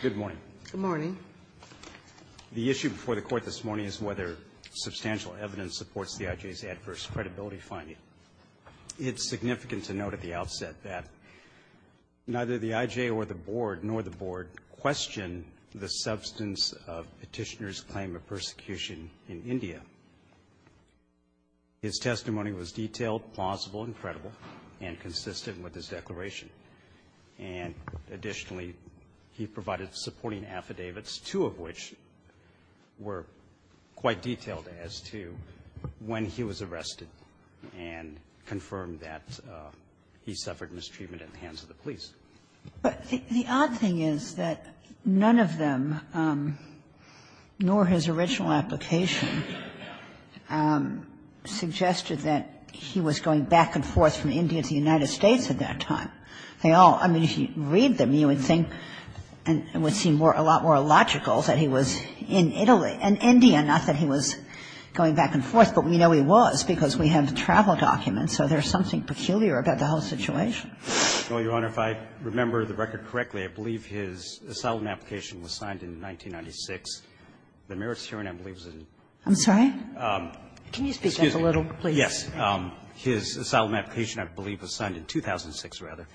Good morning. Good morning. The issue before the court this morning is whether substantial evidence supports the I.J.'s adverse credibility finding. It's significant to note at the outset that neither the I.J. or the board, nor the board, question the substance of Petitioner's claim of persecution in India. His testimony was detailed, plausible, and credible, and consistent with his declaration. And additionally, he provided supporting affidavits, two of which were quite detailed as to when he was arrested and confirmed that he suffered mistreatment at the hands of the police. But the odd thing is that none of them, nor his original application, suggested that he was going back and forth from India to the United States at that time. They all – I mean, if you read them, you would think and it would seem a lot more logical that he was in Italy, in India, not that he was going back and forth. But we know he was, because we have the travel documents, so there's something peculiar about the whole situation. Holder, if I remember the record correctly, I believe his asylum application was signed in 1996. The merits hearing, I believe, was in 1996. I'm sorry? Can you speak up a little, please? Yes. His asylum application, I believe, was signed in 2006, rather.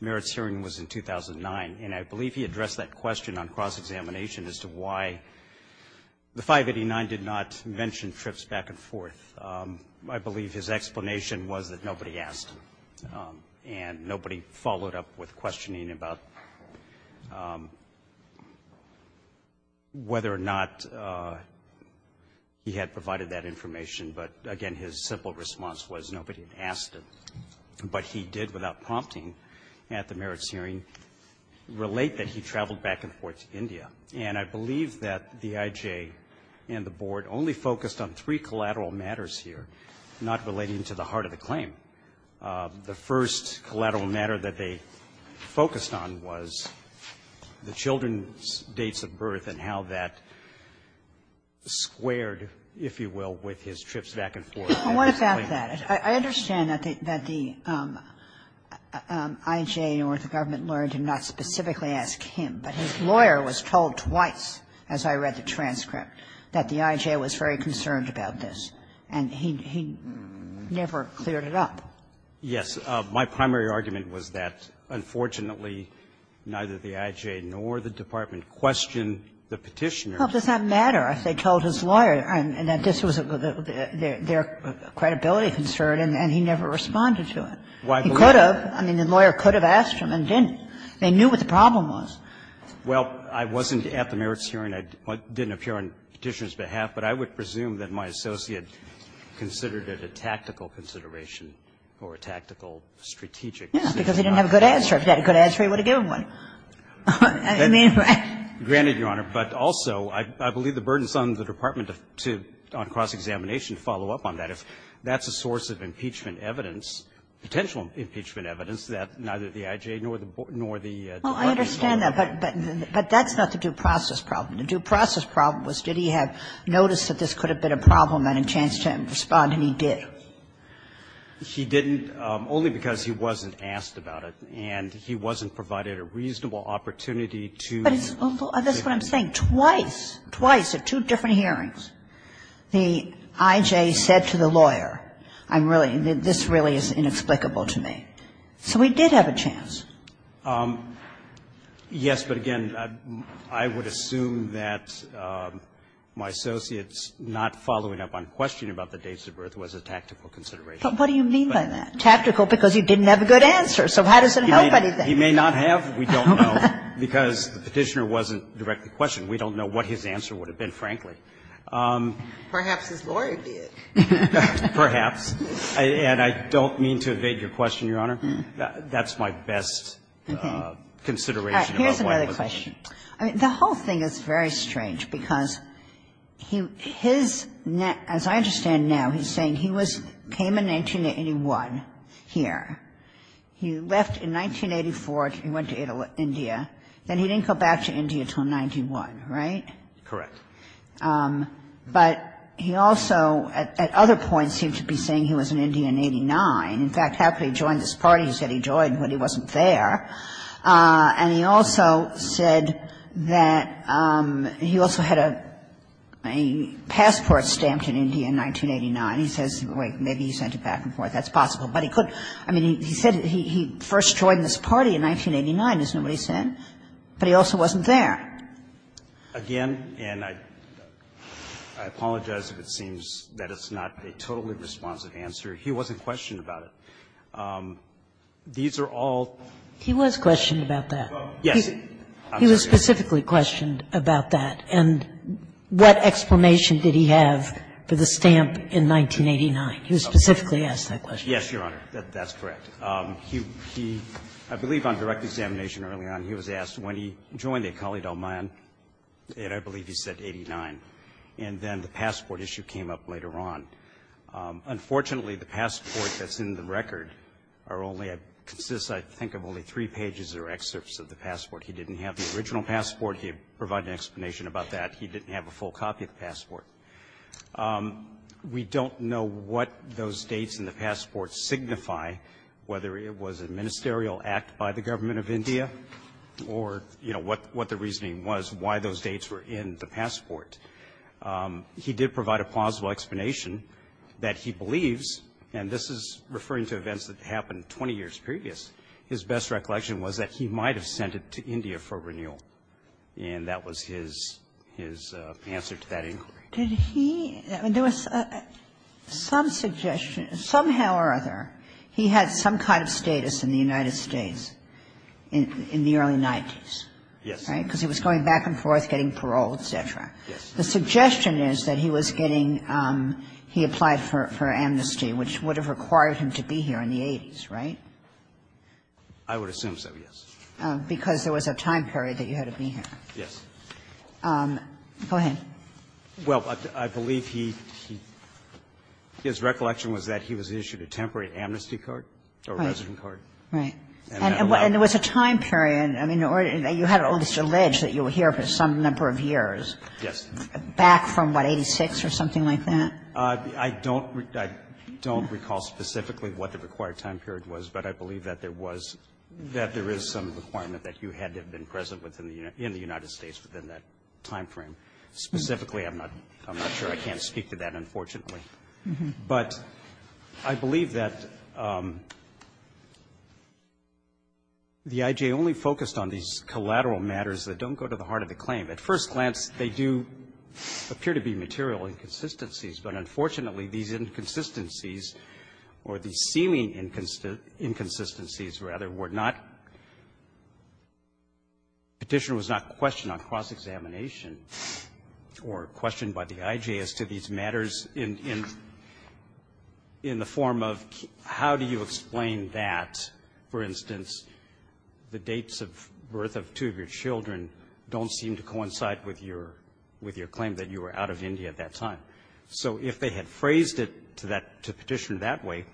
Merits hearing was in 2009. And I believe he addressed that question on cross-examination as to why the 589 did not mention trips back and forth. I believe his explanation was that nobody asked and nobody followed up with questioning about whether or not he had provided that information. But, again, his simple response was nobody had asked him. But he did, without prompting at the merits hearing, relate that he traveled back and forth to India. And I believe that the IJ and the Board only focused on three collateral matters here, not relating to the heart of the claim. The first collateral matter that they focused on was the children's dates of birth and how that squared, if you will, with his trips back and forth. I want to back that. I understand that the IJ or the government lawyer did not specifically ask him. But his lawyer was told twice, as I read the transcript, that the IJ was very concerned about this. And he never cleared it up. Yes. My primary argument was that, unfortunately, neither the IJ nor the department questioned the Petitioner. Well, does that matter if they told his lawyer that this was their credibility concern and he never responded to it? He could have. I mean, the lawyer could have asked him and didn't. They knew what the problem was. Well, I wasn't at the merits hearing. I didn't appear on Petitioner's behalf. But I would presume that my associate considered it a tactical consideration or a tactical strategic consideration. Yes, because he didn't have a good answer. If he had a good answer, he would have given one. I mean, right? Granted, Your Honor. But also, I believe the burden is on the department to, on cross-examination to follow up on that. If that's a source of impeachment evidence, potential impeachment evidence, that neither the IJ nor the department knew. Well, I understand that. But that's not the due process problem. The due process problem was did he have notice that this could have been a problem and a chance to respond, and he did. He didn't, only because he wasn't asked about it and he wasn't provided a reasonable opportunity to. But it's a little – that's what I'm saying. Twice, twice at two different hearings, the IJ said to the lawyer, I'm really – this really is inexplicable to me. So he did have a chance. Yes, but again, I would assume that my associate's not following up on questioning about the dates of birth was a tactical consideration. But what do you mean by that? Tactical, because he didn't have a good answer. So how does it help anything? He may not have. We don't know, because the Petitioner wasn't directly questioned. We don't know what his answer would have been, frankly. Perhaps his lawyer did. Perhaps. And I don't mean to evade your question, Your Honor. That's my best consideration about why it wasn't. I mean, the whole thing is very strange, because he – his – as I understand now, he's saying he was – came in 1981 here. He left in 1984. He went to India. Then he didn't go back to India until 1991, right? Correct. But he also, at other points, seemed to be saying he was in India in 89. In fact, how could he join this party he said he joined when he wasn't there? And he also said that he also had a passport stamped in India in 1989. He says, wait, maybe he sent it back and forth. That's possible. But he could – I mean, he said he first joined this party in 1989, as nobody said, but he also wasn't there. Again, and I apologize if it seems that it's not a totally responsive answer. He wasn't questioned about it. These are all – He was questioned about that. Yes. He was specifically questioned about that. And what explanation did he have for the stamp in 1989? He was specifically asked that question. Yes, Your Honor, that's correct. He – I believe on direct examination early on, he was asked when he joined the Akali Dalmaan, and I believe he said 89, and then the passport issue came up later on. Unfortunately, the passport that's in the record are only – consists, I think, of only three pages or excerpts of the passport. He didn't have the original passport. He provided an explanation about that. He didn't have a full copy of the passport. We don't know what those dates in the passport signify, whether it was a ministerial act by the Government of India or, you know, what the reasoning was, why those dates were in the passport. He did provide a plausible explanation that he believes – and this is referring to events that happened 20 years previous – his best recollection was that he might have sent it to India for renewal, and that was his answer to that inquiry. Did he – there was some suggestion, somehow or other, he had some kind of status in the United States in the early 90s. Yes. Right? Because he was going back and forth, getting parole, et cetera. Yes. The suggestion is that he was getting – he applied for amnesty, which would have required him to be here in the 80s, right? I would assume so, yes. Because there was a time period that you had to be here. Yes. Go ahead. Well, I believe he – his recollection was that he was issued a temporary amnesty card or resident card. Right. And there was a time period – I mean, you had almost alleged that you were here for some number of years. Yes. Back from, what, 86 or something like that? I don't – I don't recall specifically what the required time period was, but I believe that there was – that there is some requirement that you had to have been present within the – in the United States within that time frame. Specifically, I'm not – I'm not sure. I can't speak to that, unfortunately. But I believe that the I.J. only focused on these collateral matters that don't go to the heart of the claim. At first glance, they do appear to be material inconsistencies. But unfortunately, these inconsistencies, or these seeming inconsistencies, rather, were not – Petitioner was not questioned on cross-examination or questioned by the I.J. as to these matters in – in the form of how do you explain that, for instance, the dates of birth of two of your children don't seem to coincide with your – with your claim that you were out of India at that time. So if they had phrased it to that – to Petitioner that way,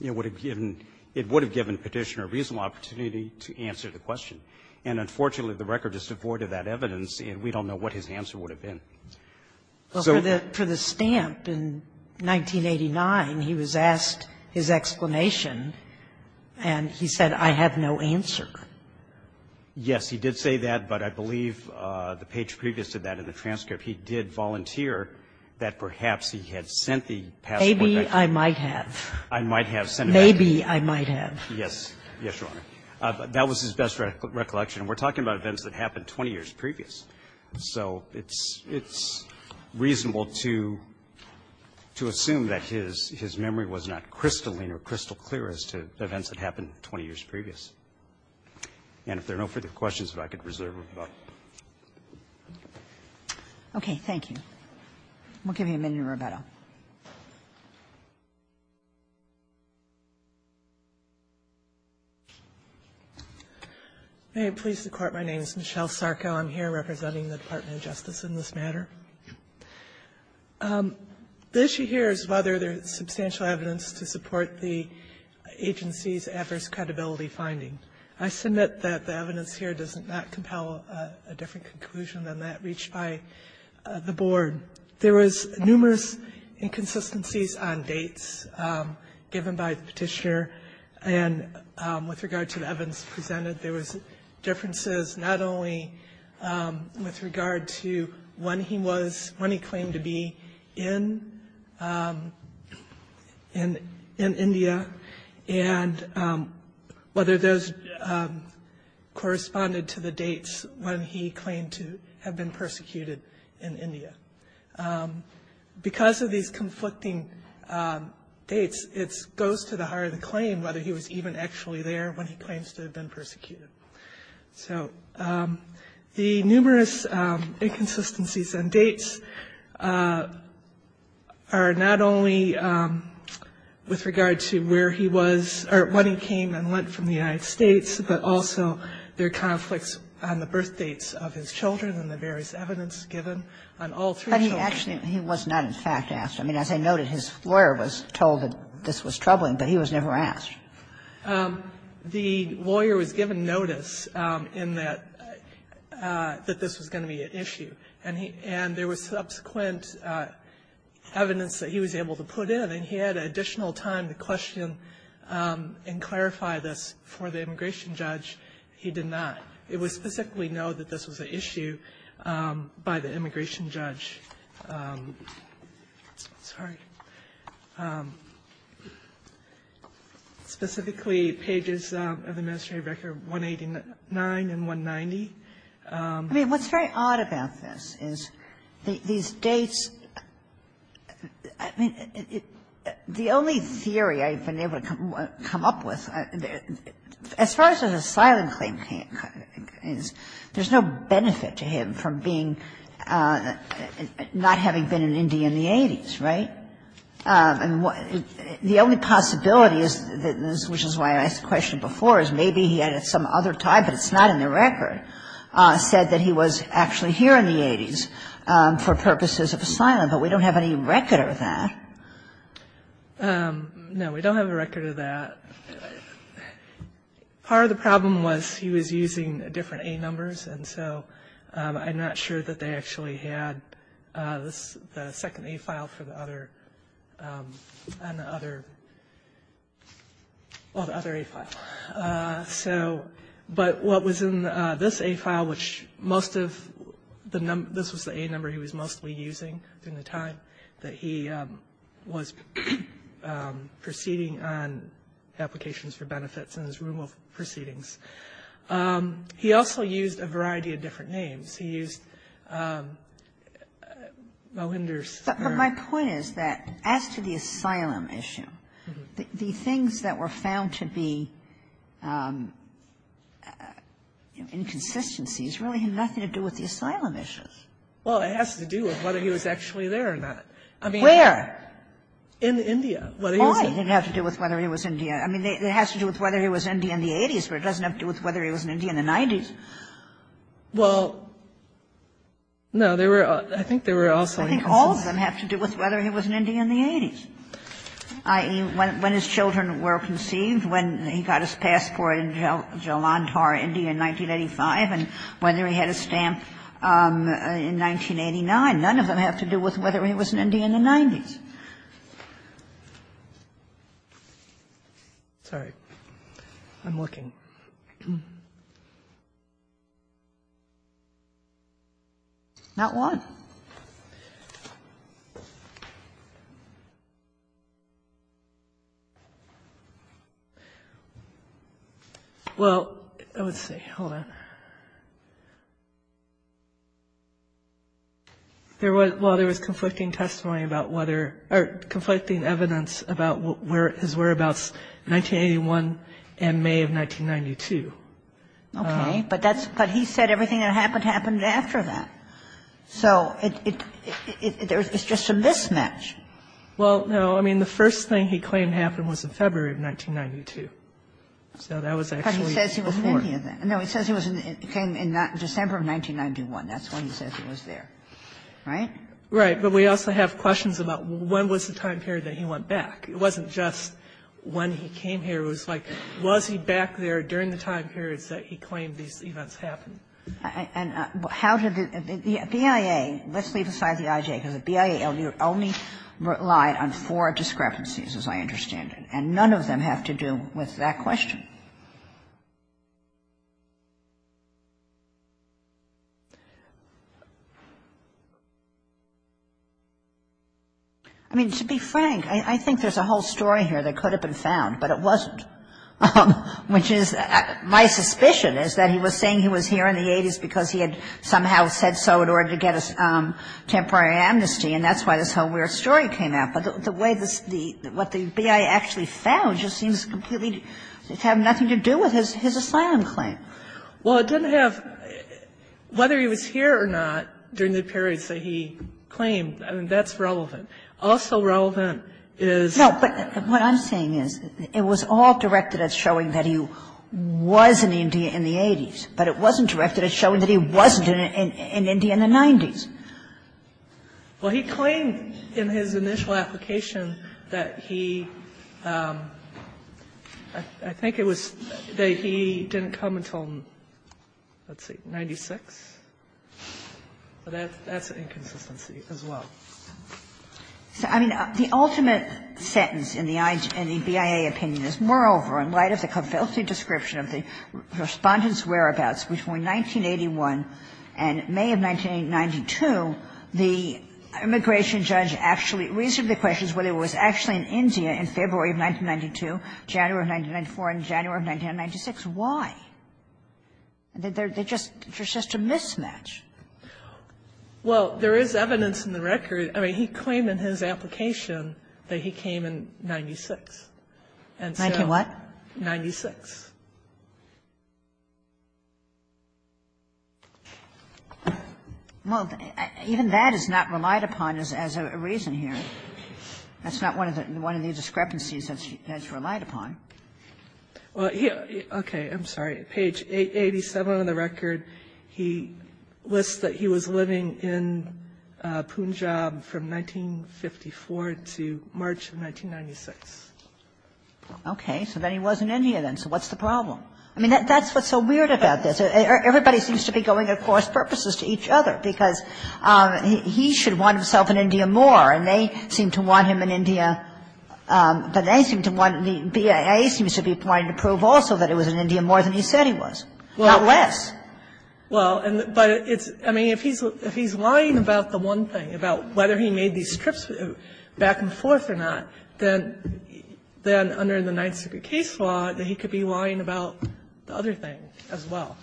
it would have given – it would have given Petitioner a reasonable opportunity to answer the question. And unfortunately, the record is devoid of that evidence, and we don't know what his answer would have been. So the – for the stamp in 1989, he was asked his explanation, and he said, I have no answer. Yes. He did say that, but I believe the page previous to that in the transcript, he did volunteer that perhaps he had sent the passport back to you. Maybe I might have. I might have sent it back to you. Maybe I might have. Yes. Yes, Your Honor. That was his best recollection. And we're talking about events that happened 20 years previous. So it's – it's reasonable to – to assume that his – his memory was not crystalline or crystal clear as to events that happened 20 years previous. And if there are no further questions, if I could reserve a vote. Okay. Thank you. We'll give you a minute in rebuttal. May it please the Court, my name is Michelle Sarko. I'm here representing the Department of Justice in this matter. The issue here is whether there is substantial evidence to support the agency's adverse credibility finding. I submit that the evidence here does not compel a different conclusion than that reached by the Board. There was numerous inconsistencies on dates given by the Petitioner, and with regard to the evidence presented, there was differences not only with regard to when he was – when he claimed to be in – in India, and whether those corresponded to the dates when he claimed to have been persecuted in India. Because of these conflicting dates, it goes to the heart of the claim whether he was even actually there when he claims to have been persecuted. So the numerous inconsistencies on dates are not only with regard to where he was – or when he came and went from the United States, but also their conflicts on the birth dates of his children and the various evidence given on all three children. But he actually – he was not, in fact, asked. I mean, as I noted, his lawyer was told that this was troubling, but he was never asked. The lawyer was given notice in that – that this was going to be an issue, and he – and there was subsequent evidence that he was able to put in, and he had additional time to question and clarify this for the immigration judge. He did not. It was specifically noted that this was an issue by the immigration judge. I'm sorry. Specifically, pages of the administrative record 189 and 190. I mean, what's very odd about this is these dates – I mean, the only theory I've been able to come up with, as far as an asylum claim is, there's no benefit to him from being – not having been in India in the 80s, right? I mean, the only possibility is – which is why I asked the question before, is maybe he had some other tie, but it's not in the record – said that he was actually here in the 80s for purposes of asylum. But we don't have any record of that. No, we don't have a record of that. Part of the problem was he was using different A-numbers, and so I'm not sure that they actually had the second A-file for the other – on the other – well, the other A-file. So – but what was in this A-file, which most of the – this was the A-number he was mostly using during the time that he was proceeding on applications for benefits in his room of proceedings. He also used a variety of different names. He used Melinder's or – But my point is that, as to the asylum issue, the things that were found to be inconsistencies really had nothing to do with the asylum issues. Well, it has to do with whether he was actually there or not. I mean, in India. Why? It didn't have to do with whether he was in India. I mean, it has to do with whether he was in India in the 80s, but it doesn't have to do with whether he was in India in the 90s. Well, no, there were – I think there were also inconsistencies. I think all of them have to do with whether he was in India in the 80s, i.e., in 1985, and whether he had a stamp in 1989. None of them have to do with whether he was in India in the 90s. Sorry. I'm looking. Not one. Well, let's see. Hold on. There was – well, there was conflicting testimony about whether – or conflicting evidence about his whereabouts in 1981 and May of 1992. Okay. But that's – but he said everything that happened happened after that. So it's just a mismatch. Well, no. I mean, the first thing he claimed happened was in February of 1992. So that was actually before. But he says he was in India then. No, he says he came in December of 1991. That's when he says he was there. Right? Right. But we also have questions about when was the time period that he went back. It wasn't just when he came here. It was like, was he back there during the time periods that he claimed these events happened? And how did the BIA – let's leave aside the IJ, because the BIA only relied on four discrepancies, as I understand it. And none of them have to do with that question. I mean, to be frank, I think there's a whole story here that could have been found, but it wasn't, which is – my suspicion is that he was saying he was here in the 80s because he had somehow said so in order to get a temporary amnesty, and that's why this whole weird story came out. But the way the – what the BIA actually found just seems completely – it's having a hard time getting it right. And that's why I'm saying it was all directed at showing that he was in India in the 80s, but it wasn't directed at showing that he wasn't in India in the 90s. Well, he claimed in his initial application that he – I think it was in his initial application that he didn't comment on, let's see, 96, but that's an inconsistency as well. So, I mean, the ultimate sentence in the BIA opinion is, moreover, in light of the complete description of the Respondent's whereabouts between 1981 and May of 1992, the immigration judge actually – reasonably questions whether he was actually in India in February of 1992, January of 1994, and January of 1996. Why? They're just – it's just a mismatch. Well, there is evidence in the record – I mean, he claimed in his application that he came in 96. And so – 1996? 1996. Well, even that is not relied upon as a reason here. That's not one of the – one of the discrepancies that's relied upon. Well, he – okay, I'm sorry. Page 87 of the record, he lists that he was living in Punjab from 1954 to March of 1996. Okay. So then he wasn't in India then. So what's the problem? I mean, that's what's so weird about this. Everybody seems to be going at course purposes to each other, because he should want himself in India more, and they seem to want him in India, but they seem to want – the BIA seems to be wanting to prove also that he was in India more than he said he was, not less. Well, and – but it's – I mean, if he's lying about the one thing, about whether he made these trips back and forth or not, then under the Ninth Circuit case law, then he could be lying about the other thing as well.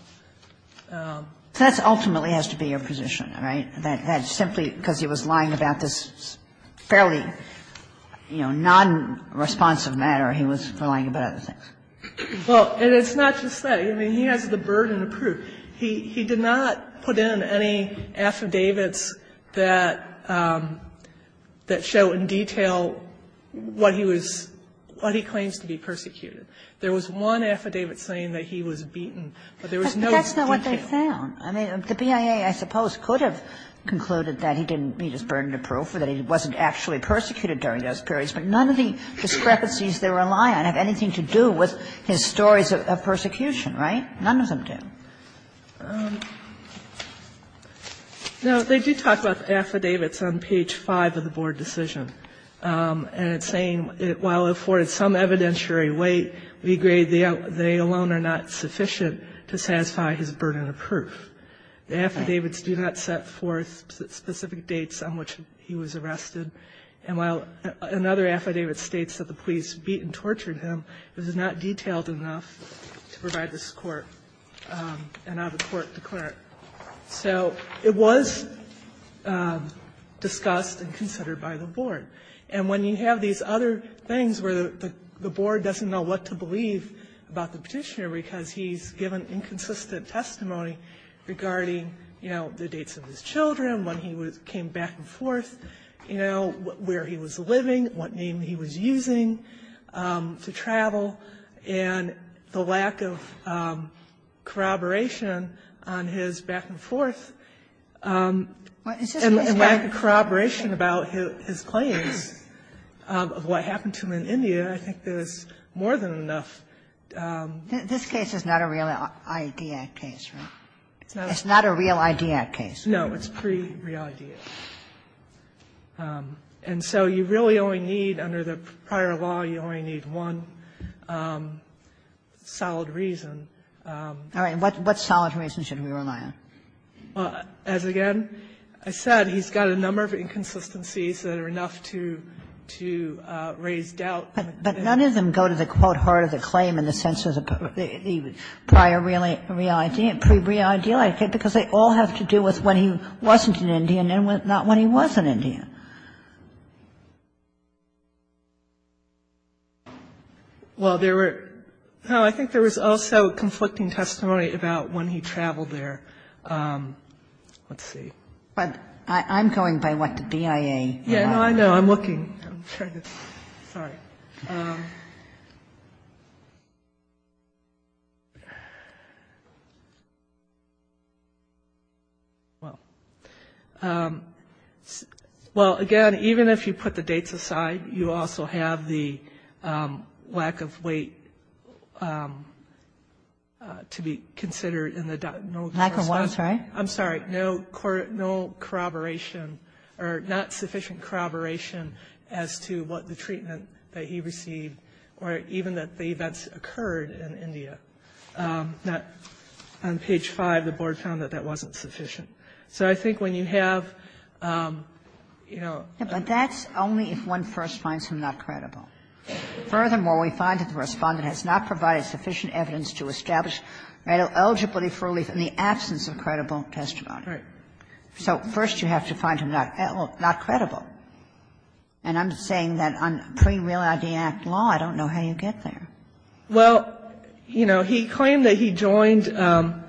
That ultimately has to be your position, right? That simply because he was lying about this fairly, you know, non-responsive matter, he was lying about other things. Well, and it's not just that. I mean, he has the burden of proof. He did not put in any affidavits that show in detail what he was – what he claims to be persecuted. There was one affidavit saying that he was beaten, but there was no detail. But that's not what they found. I mean, the BIA, I suppose, could have concluded that he didn't meet his burden of proof or that he wasn't actually persecuted during those periods, but none of the discrepancies they rely on have anything to do with his stories of persecution, right? None of them do. No, they do talk about affidavits on page 5 of the board decision, and it's saying while it afforded some evidentiary weight, we agree they alone are not sufficient to satisfy his burden of proof. The affidavits do not set forth specific dates on which he was arrested. And while another affidavit states that the police beat and tortured him, it was not detailed enough to provide this court an out-of-court declarant. So it was discussed and considered by the board. And when you have these other things where the board doesn't know what to believe about the Petitioner because he's given inconsistent testimony regarding, you know, the dates of his children, when he came back and forth, you know, where he was living, what name he was using to travel, and the lack of corroboration on his back and forth, and lack of corroboration about his claims of what happened to him in India, I think there's more than enough evidence to support that. This case is not a real IDIAC case, right? It's not a real IDIAC case. No, it's pre-real IDIAC. And so you really only need, under the prior law, you only need one solid reason. All right. What solid reason should we rely on? As, again, I said, he's got a number of inconsistencies that are enough to raise doubt. But none of them go to the, quote, heart of the claim in the sense of the prior real IDIAC, pre-real IDIAC, because they all have to do with when he wasn't in India and not when he was in India. Well, there were no, I think there was also conflicting testimony about when he traveled there. Let's see. I'm going by what the BIA. Yeah, no, I know. I'm looking. I'm trying to, sorry. Well, again, even if you put the dates aside, you also have the lack of weight to be considered in the, no, I'm sorry, no corroboration or not sufficient corroboration as to what the treatment that he received or even that the events occurred in India. On page 5, the Board found that that wasn't sufficient. So I think when you have, you know the But that's only if one first finds him not credible. Furthermore, we find that the Respondent has not provided sufficient evidence to establish eligibility for relief in the absence of credible testimony. Right. So first you have to find him not credible. And I'm saying that on pre-Real ID Act law, I don't know how you get there. Well, you know, he claimed that he joined the,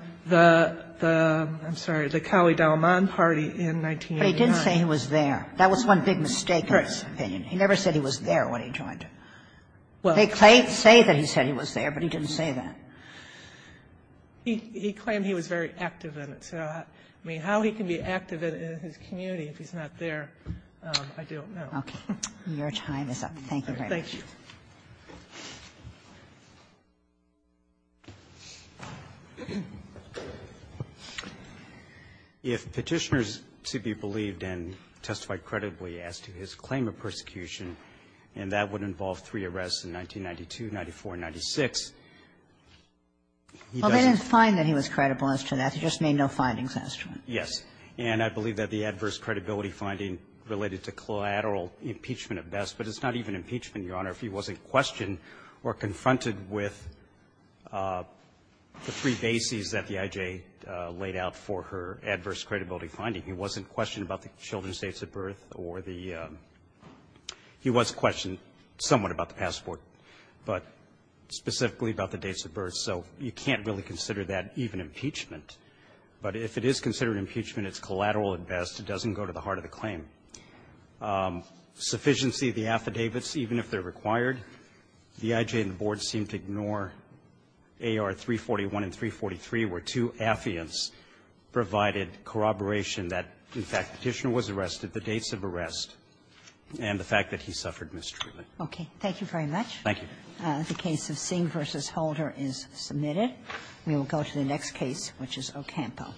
I'm sorry, the Cali-Dalman Party in 1989. But he did say he was there. That was one big mistake in his opinion. He never said he was there when he joined. They say that he said he was there, but he didn't say that. He claimed he was very active in it. So I mean, how he can be active in his community if he's not there, I don't know. Okay. Your time is up. Thank you very much. Thank you. If Petitioners to be believed and testified credibly as to his claim of persecution, and that would involve three arrests in 1992, 1994, and 1996, he doesn't Well, they didn't find that he was credible as to that. They just made no findings as to it. Yes. And I believe that the adverse credibility finding related to collateral impeachment at best, but it's not even impeachment, Your Honor, if he wasn't questioned or confronted with the three bases that the I.J. laid out for her adverse credibility finding. He wasn't questioned about the children's dates of birth or the he was questioned somewhat about the passport, but specifically about the dates of birth. So you can't really consider that even impeachment. But if it is considered impeachment, it's collateral at best. It doesn't go to the heart of the claim. Sufficiency of the affidavits, even if they're required, the I.J. and the Board seemed to ignore AR-341 and 343, where two affiants provided corroboration that, in fact, Petitioner was arrested, the dates of arrest, and the fact that he suffered mistreatment. Okay. Thank you very much. Thank you. The case of Singh v. Holder is submitted. We will go to the next case, which is Ocampo.